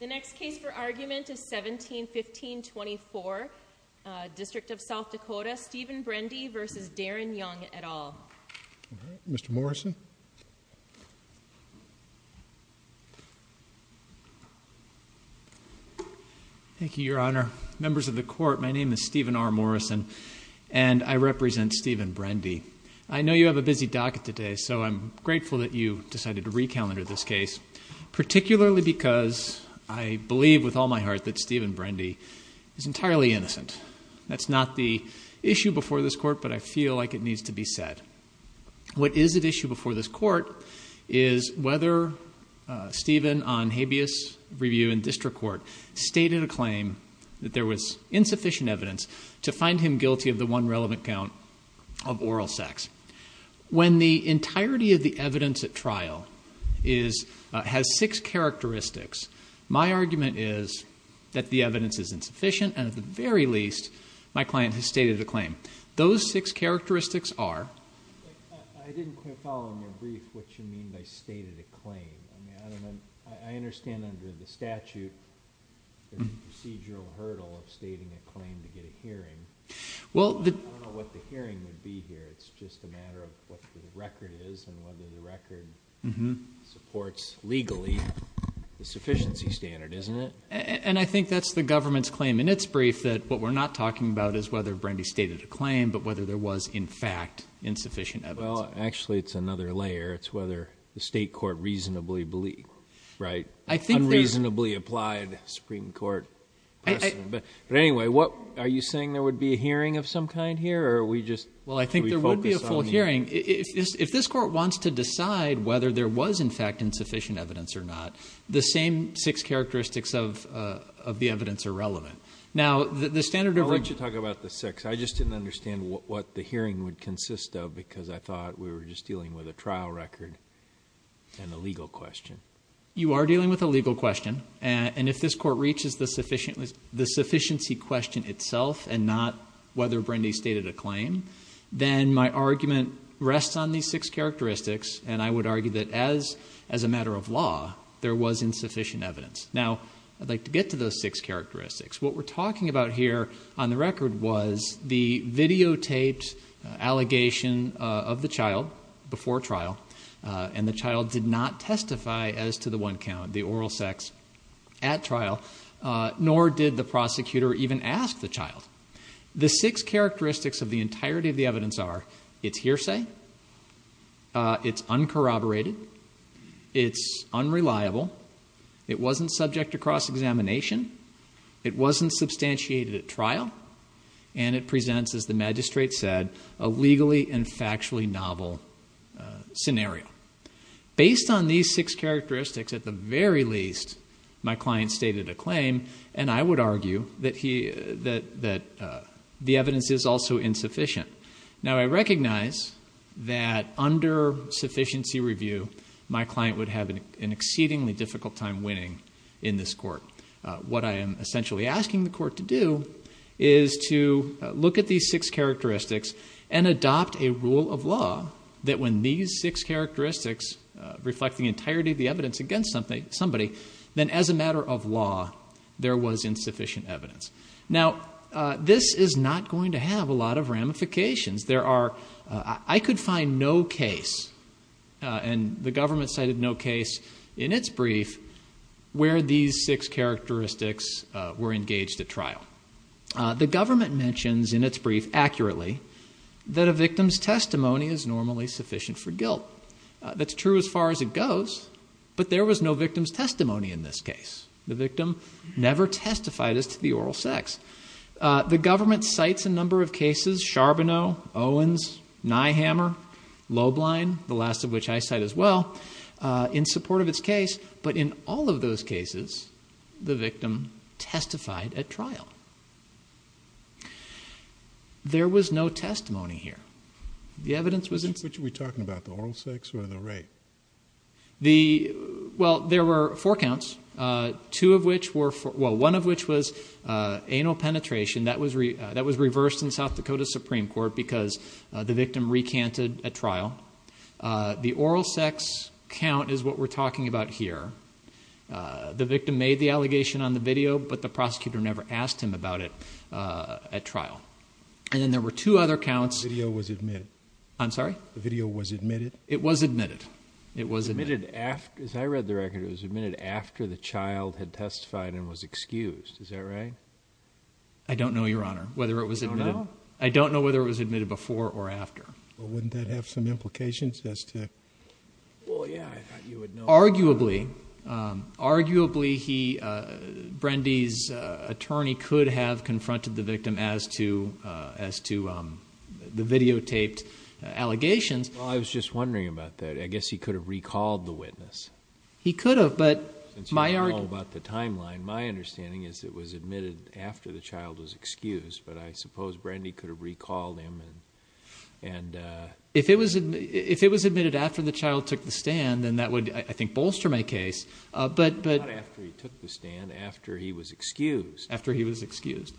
The next case for argument is 17-15-24, District of South Dakota, Stephen Brende v. Darin Young et al. Mr. Morrison. Thank you, Your Honor. Members of the Court, my name is Stephen R. Morrison, and I represent Stephen Brende. I know you have a busy docket today, so I'm grateful that you decided to recalendar this case, particularly because I believe with all my heart that Stephen Brende is entirely innocent. That's not the issue before this Court, but I feel like it needs to be said. What is at issue before this Court is whether Stephen, on habeas review in district court, stated a claim that there was insufficient evidence to find him guilty of the one relevant count of oral sex. When the entirety of the evidence at trial has six characteristics, my argument is that the evidence is insufficient, and at the very least, my client has stated a claim. Those six characteristics are... I didn't quite follow in your brief what you mean by stated a claim. I understand under the statute there's a procedural hurdle of stating a claim to get a hearing. I don't know what the hearing would be here. It's just a matter of what the record is and whether the record supports legally the sufficiency standard, isn't it? And I think that's the government's claim in its brief that what we're not talking about is whether Brende stated a claim, but whether there was, in fact, insufficient evidence. Well, actually, it's another layer. It's whether the state court reasonably believed, right? But anyway, are you saying there would be a hearing of some kind here, or are we just... Well, I think there would be a full hearing. If this court wants to decide whether there was, in fact, insufficient evidence or not, the same six characteristics of the evidence are relevant. Now, the standard of... I'll let you talk about the six. I just didn't understand what the hearing would consist of because I thought we were just dealing with a trial record and a legal question. You are dealing with a legal question. And if this court reaches the sufficiency question itself and not whether Brende stated a claim, then my argument rests on these six characteristics, and I would argue that, as a matter of law, there was insufficient evidence. Now, I'd like to get to those six characteristics. What we're talking about here on the record was the videotaped allegation of the child before trial, and the child did not testify as to the one count, the oral sex, at trial, nor did the prosecutor even ask the child. The six characteristics of the entirety of the evidence are it's hearsay, it's uncorroborated, it's unreliable, it wasn't subject to cross-examination, it wasn't substantiated at trial, and it presents, as the magistrate said, a legally and factually novel scenario. Based on these six characteristics, at the very least, my client stated a claim, and I would argue that the evidence is also insufficient. Now, I recognize that under sufficiency review, my client would have an exceedingly difficult time winning in this court. What I am essentially asking the court to do is to look at these six characteristics and adopt a rule of law that when these six characteristics reflect the entirety of the evidence against somebody, then, as a matter of law, there was insufficient evidence. Now, this is not going to have a lot of ramifications. I could find no case, and the government cited no case in its brief, where these six characteristics were engaged at trial. The government mentions in its brief, accurately, that a victim's testimony is normally sufficient for guilt. That's true as far as it goes, but there was no victim's testimony in this case. The victim never testified as to the oral sex. The government cites a number of cases, Charbonneau, Owens, Neihammer, Loeblein, the last of which I cite as well, in support of its case, but in all of those cases, the victim testified at trial. There was no testimony here. The evidence was insufficient. Which are we talking about, the oral sex or the rape? Well, there were four counts, one of which was anal penetration. That was reversed in South Dakota's Supreme Court because the victim recanted at trial. The oral sex count is what we're talking about here. The victim made the allegation on the video, but the prosecutor never asked him about it at trial. And then there were two other counts. The video was admitted. I'm sorry? The video was admitted. It was admitted. It was admitted after. As I read the record, it was admitted after the child had testified and was excused. Is that right? I don't know, Your Honor, whether it was admitted. You don't know? I don't know whether it was admitted before or after. Well, wouldn't that have some implications as to? Well, yeah, I thought you would know. Arguably, he, Brendy's attorney, could have confronted the victim as to the videotaped allegations. Well, I was just wondering about that. I guess he could have recalled the witness. He could have, but my argument. Since you don't know about the timeline, my understanding is it was admitted after the child was excused. But I suppose Brendy could have recalled him and... If it was admitted after the child took the stand, then that would, I think, bolster my case. Not after he took the stand, after he was excused. After he was excused.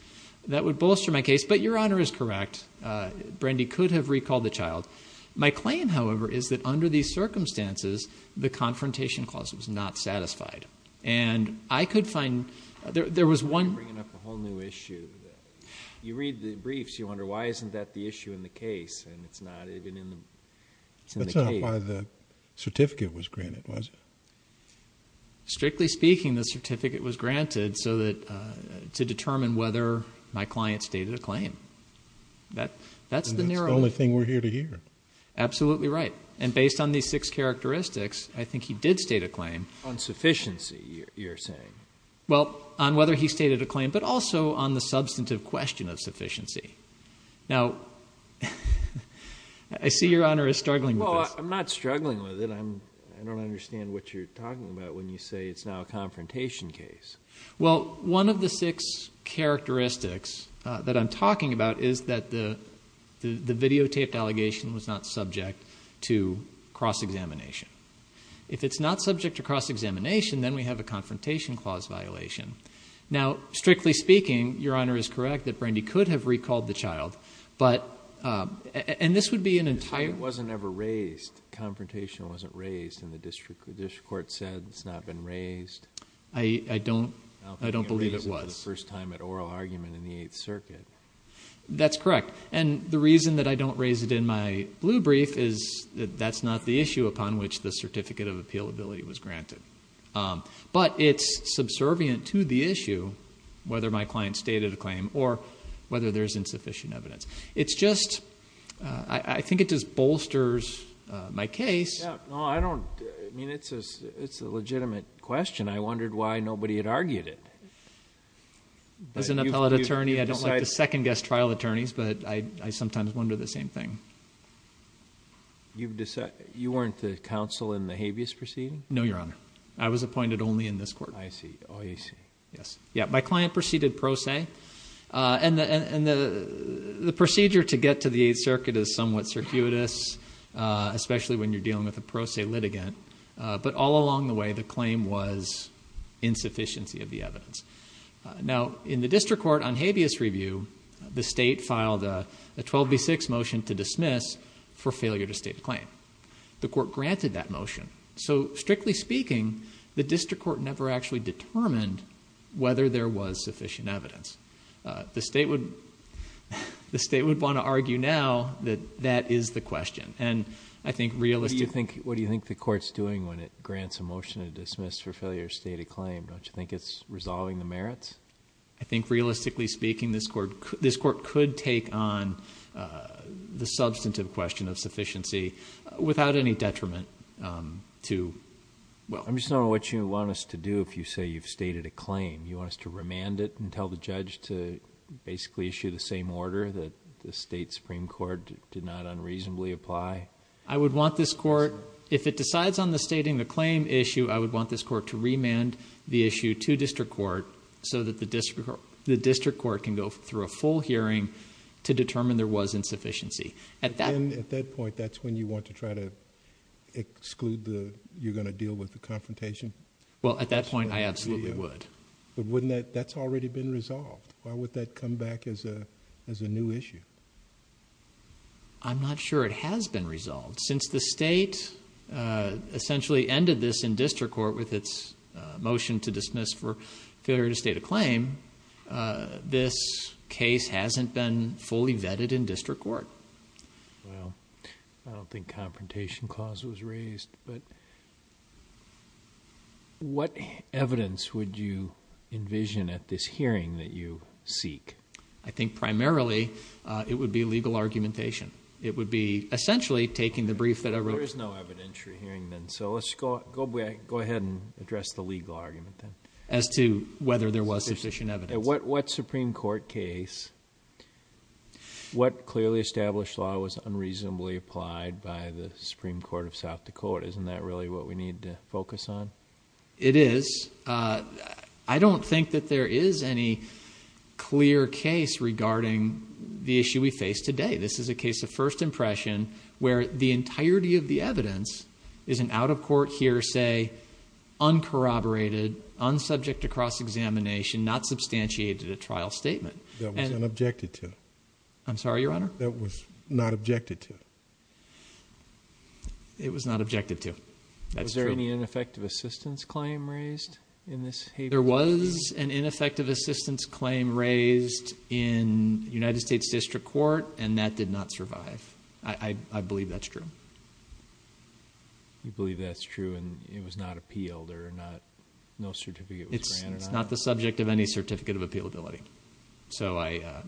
That would bolster my case. But Your Honor is correct. Brendy could have recalled the child. My claim, however, is that under these circumstances, the confrontation clause was not satisfied. And I could find... You're bringing up a whole new issue. You read the briefs. You wonder why isn't that the issue in the case, and it's not even in the case. That's not why the certificate was granted, was it? Strictly speaking, the certificate was granted to determine whether my client stated a claim. That's the narrow... That's the only thing we're here to hear. Absolutely right. And based on these six characteristics, I think he did state a claim. On sufficiency, you're saying? Well, on whether he stated a claim, but also on the substantive question of sufficiency. Now, I see Your Honor is struggling with this. Well, I'm not struggling with it. I don't understand what you're talking about when you say it's now a confrontation case. Well, one of the six characteristics that I'm talking about is that the videotaped allegation was not subject to cross-examination. If it's not subject to cross-examination, then we have a confrontation clause violation. Now, strictly speaking, Your Honor is correct that Brandy could have recalled the child, but... And this would be an entire... The child wasn't ever raised. The confrontation wasn't raised, and the district court said it's not been raised. I don't... I don't think it was. I don't think it was the first time at oral argument in the Eighth Circuit. That's correct. And the reason that I don't raise it in my blue brief is that that's not the issue upon which the certificate of appealability was granted. But it's subservient to the issue, whether my client stated a claim or whether there's insufficient evidence. It's just... I think it just bolsters my case. No, I don't... I mean, it's a legitimate question. I wondered why nobody had argued it. As an appellate attorney, I don't like to second-guess trial attorneys, but I sometimes wonder the same thing. You weren't the counsel in the habeas proceeding? No, Your Honor. I was appointed only in this court. I see. Oh, I see. Yes. Yeah, my client proceeded pro se. And the procedure to get to the Eighth Circuit is somewhat circuitous, especially when you're dealing with a pro se litigant. But all along the way, the claim was insufficiency of the evidence. Now, in the district court on habeas review, the state filed a 12B6 motion to dismiss for failure to state a claim. The court granted that motion. So, strictly speaking, the district court never actually determined whether there was sufficient evidence. The state would want to argue now that that is the question. And I think realistically... What do you think the court's doing when it grants a motion to dismiss for failure to state a claim? I think realistically speaking, this court could take on the substantive question of sufficiency without any detriment to... I'm just wondering what you want us to do if you say you've stated a claim. You want us to remand it and tell the judge to basically issue the same order that the state supreme court did not unreasonably apply? I would want this court... If it decides on the stating the claim issue, I would want this court to remand the issue to district court... so that the district court can go through a full hearing to determine there was insufficiency. At that point, that's when you want to try to exclude the... you're going to deal with the confrontation? Well, at that point, I absolutely would. But wouldn't that... that's already been resolved. Why would that come back as a new issue? I'm not sure it has been resolved. Since the state essentially ended this in district court with its motion to dismiss for failure to state a claim... this case hasn't been fully vetted in district court. Well, I don't think confrontation clause was raised. But, what evidence would you envision at this hearing that you seek? I think primarily, it would be legal argumentation. It would be essentially taking the brief that I wrote. There is no evidentiary hearing then. So, let's go ahead and address the legal argument then. As to whether there was sufficient evidence. What supreme court case... what clearly established law was unreasonably applied by the supreme court of South Dakota? Isn't that really what we need to focus on? It is. I don't think that there is any clear case regarding the issue we face today. This is a case of first impression where the entirety of the evidence is an out-of-court hearsay... uncorroborated, unsubject to cross-examination, not substantiated at trial statement. That was not objected to. I'm sorry, Your Honor? That was not objected to. It was not objected to. That's true. Was there any ineffective assistance claim raised in this case? There was an ineffective assistance claim raised in United States District Court, and that did not survive. I believe that's true. You believe that's true, and it was not appealed, or no certificate was granted on it? It's not the subject of any certificate of appealability.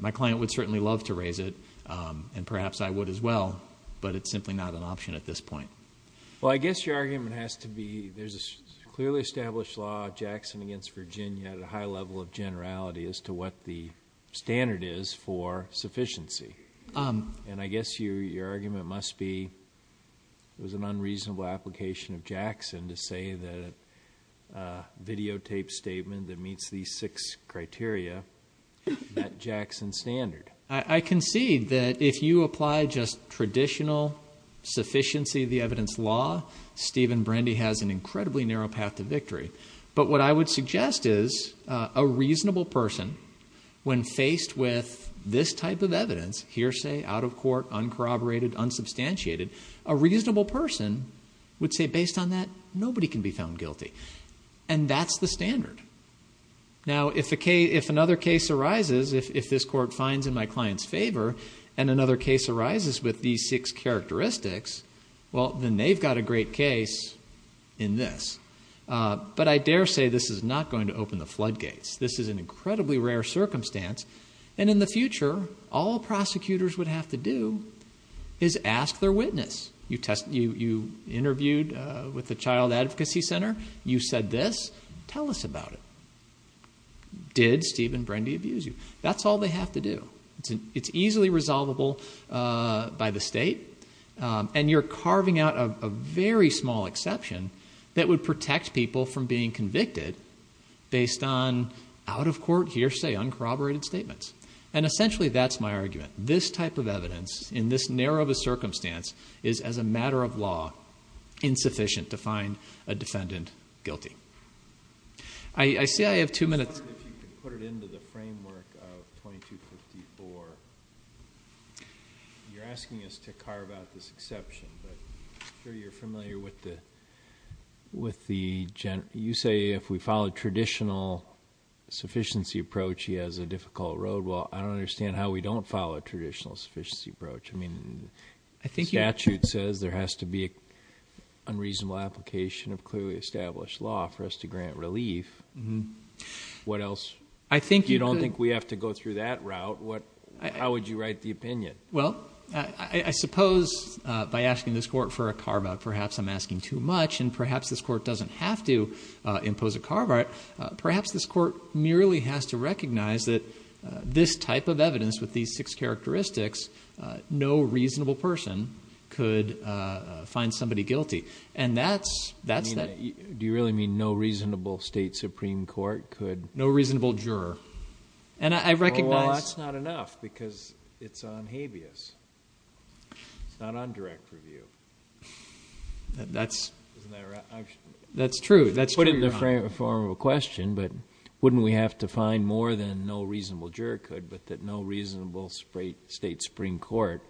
My client would certainly love to raise it, and perhaps I would as well, but it's simply not an option at this point. Well, I guess your argument has to be there's a clearly established law of Jackson against Virginia at a high level of generality as to what the standard is for sufficiency. And I guess your argument must be it was an unreasonable application of Jackson to say that a videotaped statement that meets these six criteria met Jackson's standard. I concede that if you apply just traditional sufficiency of the evidence law, Stephen Brandy has an incredibly narrow path to victory. But what I would suggest is a reasonable person, when faced with this type of evidence, hearsay, out of court, uncorroborated, unsubstantiated, a reasonable person would say based on that, nobody can be found guilty. And that's the standard. Now, if another case arises, if this court finds in my client's favor, and another case arises with these six characteristics, well, then they've got a great case in this. But I dare say this is not going to open the floodgates. This is an incredibly rare circumstance, and in the future, all prosecutors would have to do is ask their witness. You interviewed with the Child Advocacy Center. You said this. Tell us about it. Did Stephen Brandy abuse you? That's all they have to do. It's easily resolvable by the state, and you're carving out a very small exception that would protect people from being convicted based on out-of-court hearsay, uncorroborated statements. And essentially, that's my argument. This type of evidence in this narrow of a circumstance is, as a matter of law, insufficient to find a defendant guilty. I see I have two minutes. I was wondering if you could put it into the framework of 2254. You're asking us to carve out this exception, but I'm sure you're familiar with the general. You say if we follow a traditional sufficiency approach, he has a difficult road. Well, I don't understand how we don't follow a traditional sufficiency approach. I mean, the statute says there has to be an unreasonable application of clearly established law for us to grant relief. What else? If you don't think we have to go through that route, how would you write the opinion? Well, I suppose by asking this court for a carve-out, perhaps I'm asking too much, and perhaps this court doesn't have to impose a carve-out. Perhaps this court merely has to recognize that this type of evidence with these six characteristics, no reasonable person could find somebody guilty. And that's that. Do you really mean no reasonable state supreme court could? No reasonable juror. And I recognize. Well, that's not enough because it's on habeas. It's not on direct review. That's true. Put it in the form of a question, but wouldn't we have to find more than no reasonable juror could, but that no reasonable state supreme court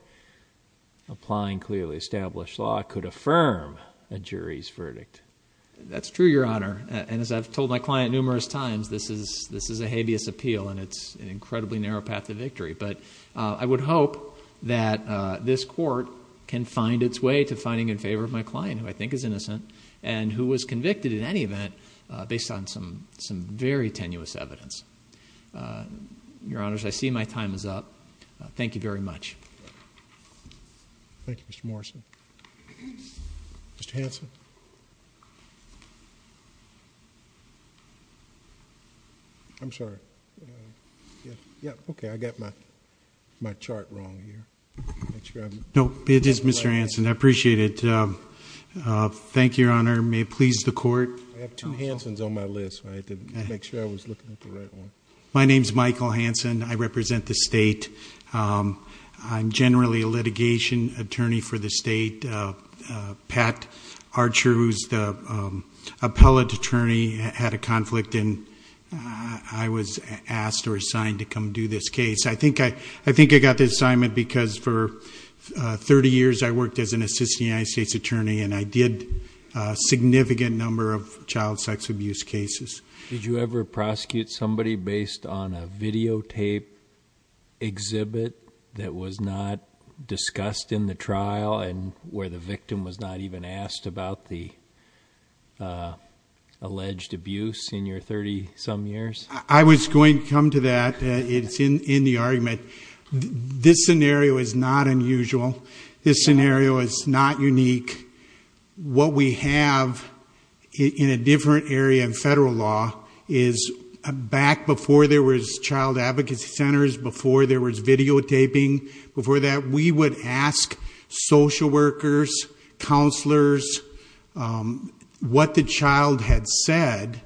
applying clearly established law could affirm a jury's verdict? That's true, Your Honor. And as I've told my client numerous times, this is a habeas appeal, and it's an incredibly narrow path to victory. But I would hope that this court can find its way to finding in favor of my client, who I think is innocent, and who was convicted in any event based on some very tenuous evidence. Your Honors, I see my time is up. Thank you very much. Thank you, Mr. Morrison. Mr. Hanson? I'm sorry. Yeah, okay, I got my chart wrong here. No, it is Mr. Hanson. I appreciate it. Thank you, Your Honor. May it please the court. I have two Hansons on my list. I had to make sure I was looking at the right one. My name is Michael Hanson. I represent the state. I'm generally a litigation attorney for the state. Pat Archer, who's the appellate attorney, had a conflict, and I was asked or assigned to come do this case. I think I got the assignment because for 30 years I worked as an assistant United States attorney, and I did a significant number of child sex abuse cases. Did you ever prosecute somebody based on a videotape exhibit that was not discussed in the trial and where the victim was not even asked about the alleged abuse in your 30-some years? I was going to come to that. It's in the argument. This scenario is not unusual. This scenario is not unique. What we have in a different area in federal law is back before there was child advocacy centers, before there was videotaping, before that we would ask social workers, counselors, what the child had said,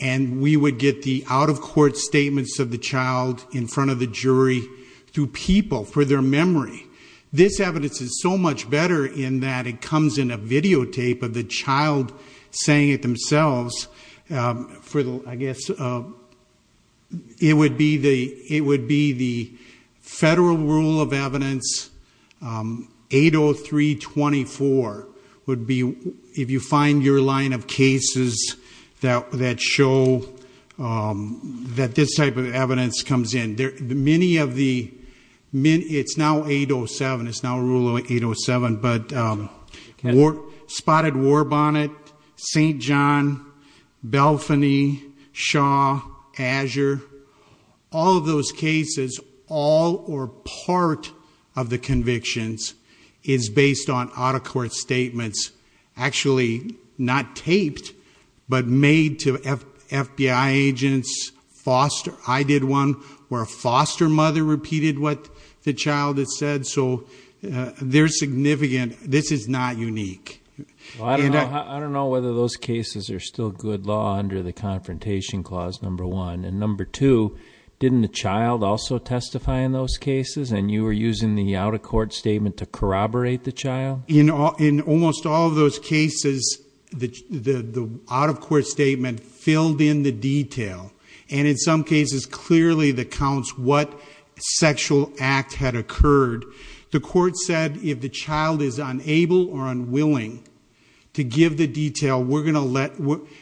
and we would get the out-of-court statements of the child in front of the jury through people for their memory. This evidence is so much better in that it comes in a videotape of the child saying it themselves. I guess it would be the federal rule of evidence, 803.24, would be if you find your line of cases that show that this type of evidence comes in. It's now 807. It's now Rule 807. But Spotted War Bonnet, St. John, Belfany, Shaw, Azure, all of those cases, all or part of the convictions is based on out-of-court statements, actually not taped but made to FBI agents, foster. I did one where a foster mother repeated what the child had said, so they're significant. This is not unique. I don't know whether those cases are still good law under the Confrontation Clause No. 1. And No. 2, didn't the child also testify in those cases, and you were using the out-of-court statement to corroborate the child? In almost all of those cases, the out-of-court statement filled in the detail, and in some cases clearly that counts what sexual act had occurred. The court said if the child is unable or unwilling to give the detail, we're going to let,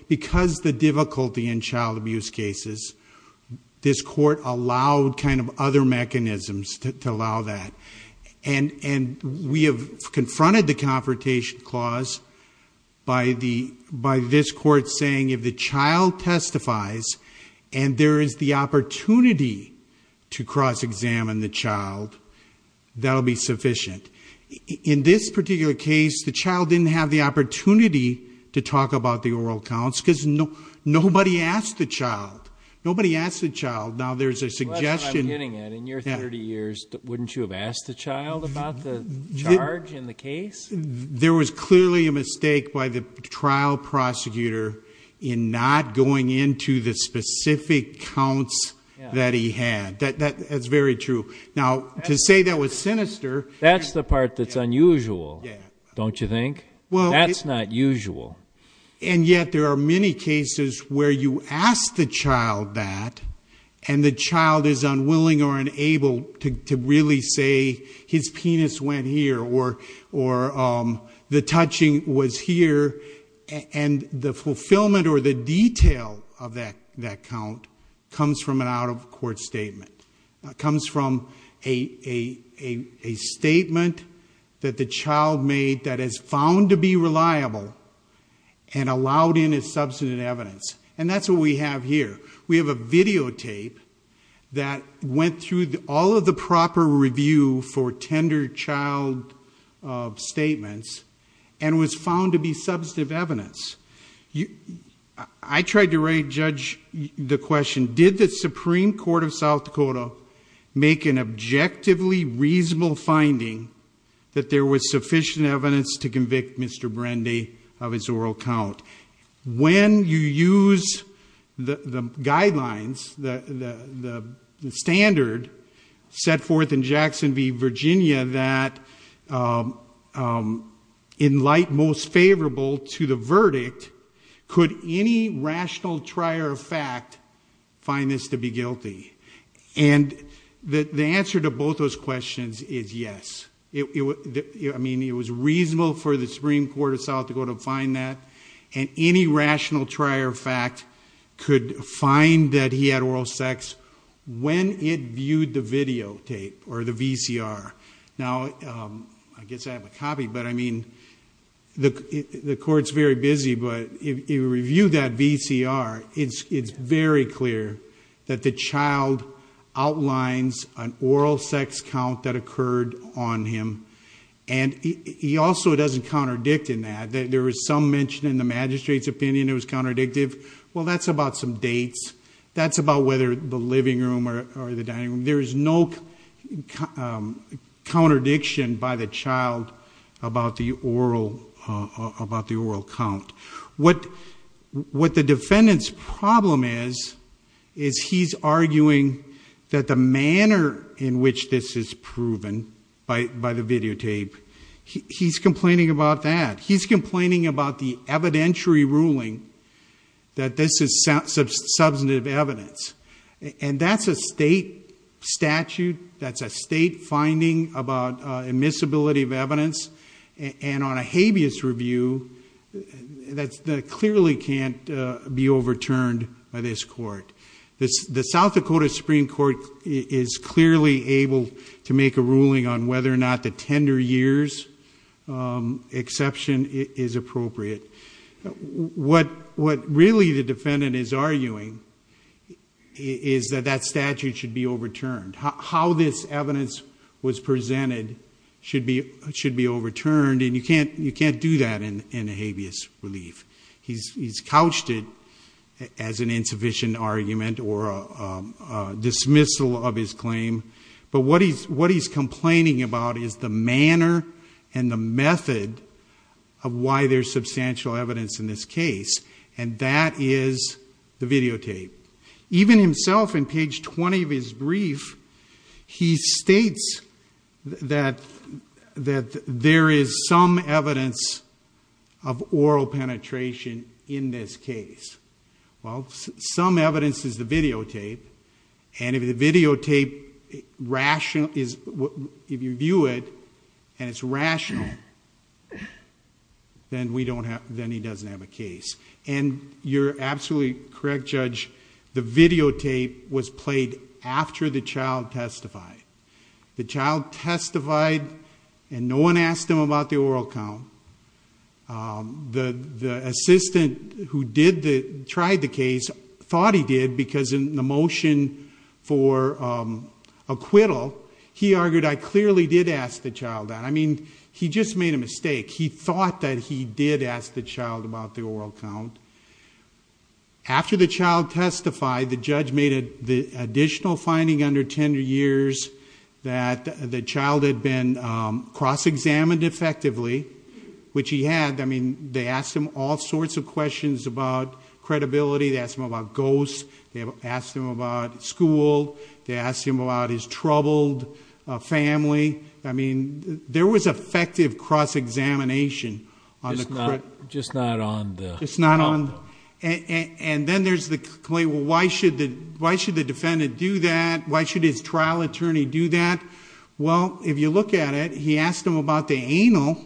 because the difficulty in child abuse cases, this court allowed kind of other mechanisms to allow that. And we have confronted the Confrontation Clause by this court saying, if the child testifies and there is the opportunity to cross-examine the child, that will be sufficient. In this particular case, the child didn't have the opportunity to talk about the oral counts because nobody asked the child. Nobody asked the child. Now, there's a suggestion. Unless I'm getting it, in your 30 years, wouldn't you have asked the child about the charge in the case? There was clearly a mistake by the trial prosecutor in not going into the specific counts that he had. That's very true. Now, to say that was sinister— That's the part that's unusual, don't you think? That's not usual. And yet there are many cases where you ask the child that, and the child is unwilling or unable to really say, his penis went here or the touching was here, and the fulfillment or the detail of that count comes from an out-of-court statement. It comes from a statement that the child made that is found to be reliable and allowed in as substantive evidence. And that's what we have here. We have a videotape that went through all of the proper review for tender child statements and was found to be substantive evidence. I tried to judge the question, did the Supreme Court of South Dakota make an objectively reasonable finding that there was sufficient evidence to convict Mr. Brandy of his oral count? When you use the guidelines, the standard set forth in Jackson v. Virginia, that in light most favorable to the verdict, could any rational trier of fact find this to be guilty? And the answer to both those questions is yes. I mean, it was reasonable for the Supreme Court of South Dakota to find that, and any rational trier of fact could find that he had oral sex when it viewed the videotape or the VCR. Now, I guess I have a copy, but I mean, the court's very busy, but if you review that VCR, it's very clear that the child outlines an oral sex count that occurred on him. And he also doesn't counterdict in that. There was some mention in the magistrate's opinion it was counterdictive. Well, that's about some dates. That's about whether the living room or the dining room. There is no contradiction by the child about the oral count. What the defendant's problem is, is he's arguing that the manner in which this is proven by the videotape, he's complaining about that. He's complaining about the evidentiary ruling that this is substantive evidence. And that's a state statute. That's a state finding about immiscibility of evidence. And on a habeas review, that clearly can't be overturned by this court. The South Dakota Supreme Court is clearly able to make a ruling on whether or not the tender years exception is appropriate. What really the defendant is arguing is that that statute should be overturned. How this evidence was presented should be overturned, and you can't do that in a habeas relief. He's couched it as an insufficient argument or a dismissal of his claim. But what he's complaining about is the manner and the method of why there's substantial evidence in this case, and that is the videotape. Even himself in page 20 of his brief, he states that there is some evidence of oral penetration in this case. Well, some evidence is the videotape, and if the videotape is rational, if you view it and it's rational, then he doesn't have a case. And you're absolutely correct, Judge. The videotape was played after the child testified. The child testified, and no one asked him about the oral count. The assistant who tried the case thought he did, because in the motion for acquittal, he argued, I clearly did ask the child that. I mean, he just made a mistake. He thought that he did ask the child about the oral count. After the child testified, the judge made the additional finding under 10 years that the child had been cross-examined effectively, which he had. I mean, they asked him all sorts of questions about credibility. They asked him about ghosts. They asked him about school. They asked him about his troubled family. I mean, there was effective cross-examination. Just not on the... Just not on... And then there's the claim, well, why should the defendant do that? Why should his trial attorney do that? Well, if you look at it, he asked him about the anal.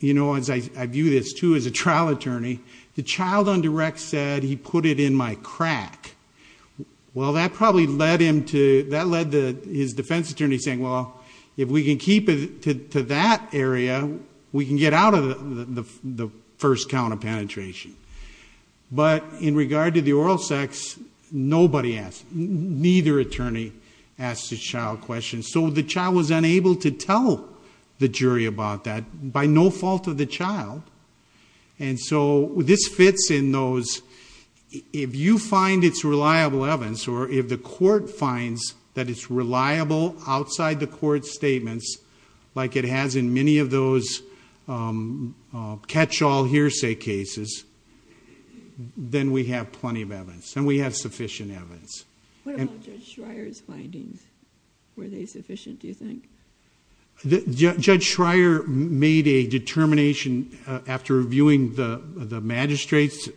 You know, as I view this, too, as a trial attorney, the child on direct said, he put it in my crack. Well, that probably led him to... that led his defense attorney saying, well, if we can keep it to that area, we can get out of the first count of penetration. But in regard to the oral sex, nobody asked. Neither attorney asked the child questions. So the child was unable to tell the jury about that by no fault of the child. And so this fits in those... If you find it's reliable evidence, or if the court finds that it's reliable outside the court's statements, like it has in many of those catch-all hearsay cases, then we have plenty of evidence, and we have sufficient evidence. What about Judge Schreier's findings? Were they sufficient, do you think? Judge Schreier made a determination after reviewing the magistrate's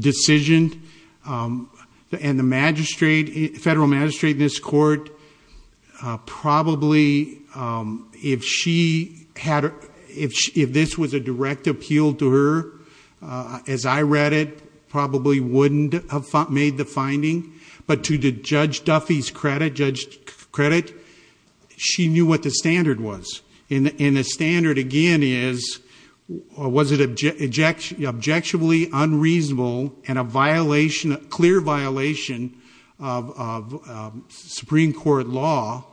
decision. And the magistrate, federal magistrate in this court, probably if she had... if this was a direct appeal to her, as I read it, probably wouldn't have made the finding. But to Judge Duffy's credit, she knew what the standard was. And the standard again is, was it objectively unreasonable and a clear violation of Supreme Court law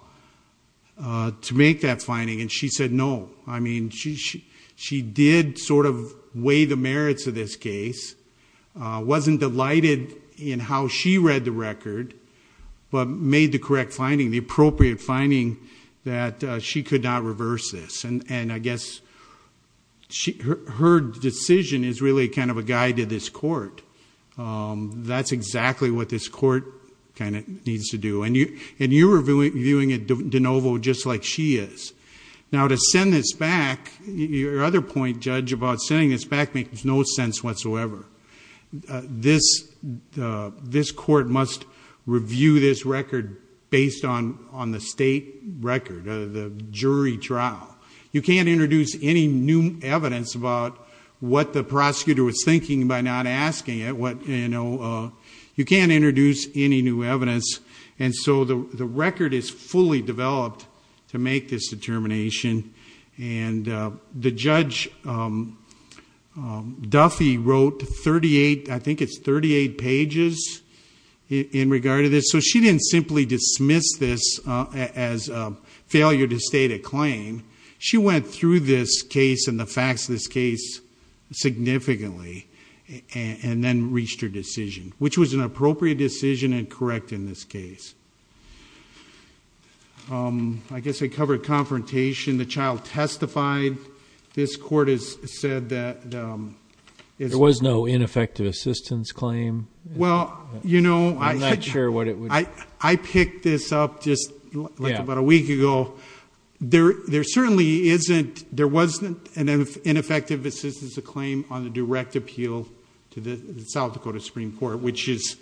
to make that finding? And she said no. I mean, she did sort of weigh the merits of this case, wasn't delighted in how she read the record, but made the correct finding, the appropriate finding, that she could not reverse this. And I guess her decision is really kind of a guide to this court. That's exactly what this court kind of needs to do. And you're reviewing it de novo just like she is. Now, to send this back, your other point, Judge, about sending this back makes no sense whatsoever. This court must review this record based on the state record, the jury trial. You can't introduce any new evidence about what the prosecutor was thinking by not asking it. You can't introduce any new evidence. And so the record is fully developed to make this determination and the Judge Duffy wrote 38, I think it's 38 pages in regard to this. So she didn't simply dismiss this as a failure to state a claim. She went through this case and the facts of this case significantly and then reached her decision, which was an appropriate decision and correct in this case. I guess I covered confrontation. The child testified. This court has said that. There was no ineffective assistance claim. Well, you know, I'm not sure what it was. I picked this up just about a week ago. There certainly isn't. There wasn't an ineffective assistance to claim on the direct appeal to the South Dakota Supreme Court, which is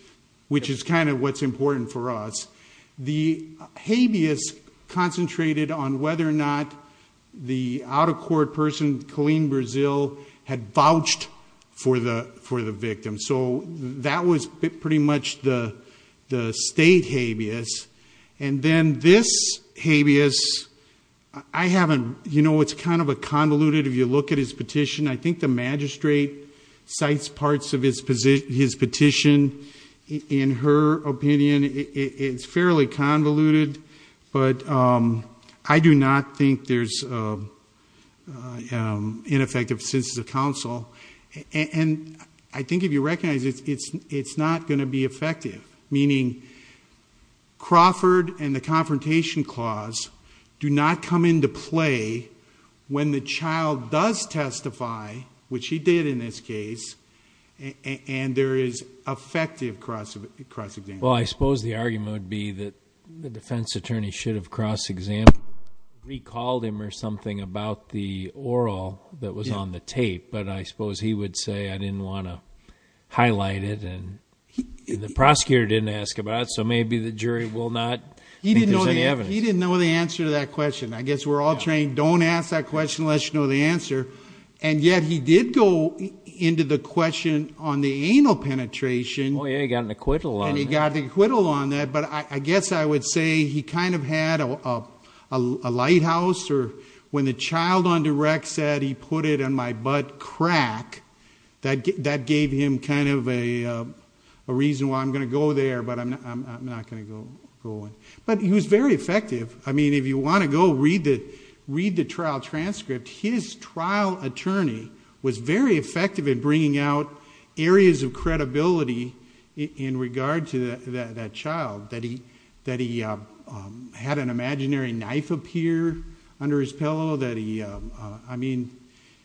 kind of what's important for us. The habeas concentrated on whether or not the out-of-court person, Colleen Brazil, had vouched for the victim. So that was pretty much the state habeas. And then this habeas, I haven't, you know, it's kind of a convoluted. If you look at his petition, I think the magistrate cites parts of his position, his petition. In her opinion, it's fairly convoluted, but I do not think there's ineffective since the council. And I think if you recognize it, it's not going to be effective. Meaning Crawford and the confrontation clause do not come into play. When the child does testify, which he did in this case, and there is effective cross-examination. Well, I suppose the argument would be that the defense attorney should have cross-examined, recalled him or something about the oral that was on the tape. But I suppose he would say, I didn't want to highlight it. And the prosecutor didn't ask about it. So maybe the jury will not think there's any evidence. He didn't know the answer to that question. I guess we're all trained, don't ask that question unless you know the answer. And yet he did go into the question on the anal penetration. Oh, yeah, he got an acquittal on that. And he got an acquittal on that. But I guess I would say he kind of had a lighthouse. Or when the child on direct said, he put it in my butt crack, that gave him kind of a reason why I'm going to go there, but I'm not going to go in. But he was very effective. I mean, if you want to go read the trial transcript, his trial attorney was very effective in bringing out areas of credibility in regard to that child, that he had an imaginary knife appear under his pillow. I mean,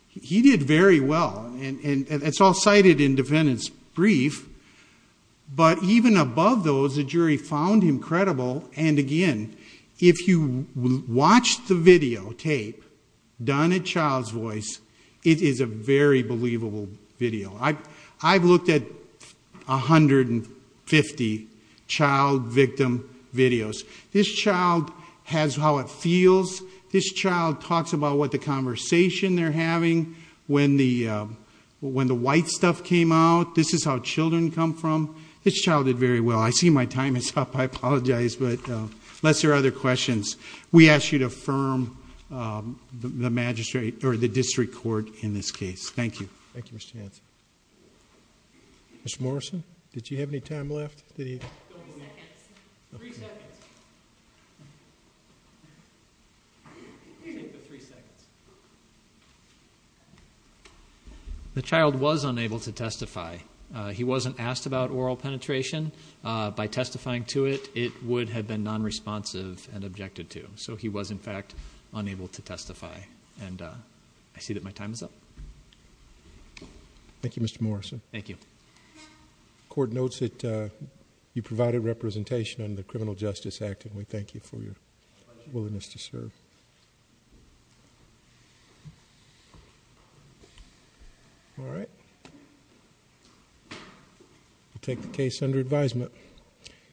he did very well. And it's all cited in defendant's brief. But even above those, the jury found him credible. And, again, if you watch the videotape done at Child's Voice, it is a very believable video. I've looked at 150 child victim videos. This child has how it feels. This child talks about what the conversation they're having. When the white stuff came out, this is how children come from. This child did very well. I see my time is up. I apologize. But unless there are other questions, we ask you to affirm the district court in this case. Thank you. Thank you, Mr. Hanson. Mr. Morrison, did you have any time left? Three seconds. The child was unable to testify. He wasn't asked about oral penetration. By testifying to it, it would have been nonresponsive and objected to. So he was, in fact, unable to testify. And I see that my time is up. Thank you, Mr. Morrison. Thank you. The court notes that you provided representation under the Criminal Justice Act, and we thank you for your willingness to serve. All right. We'll take the case under advisement.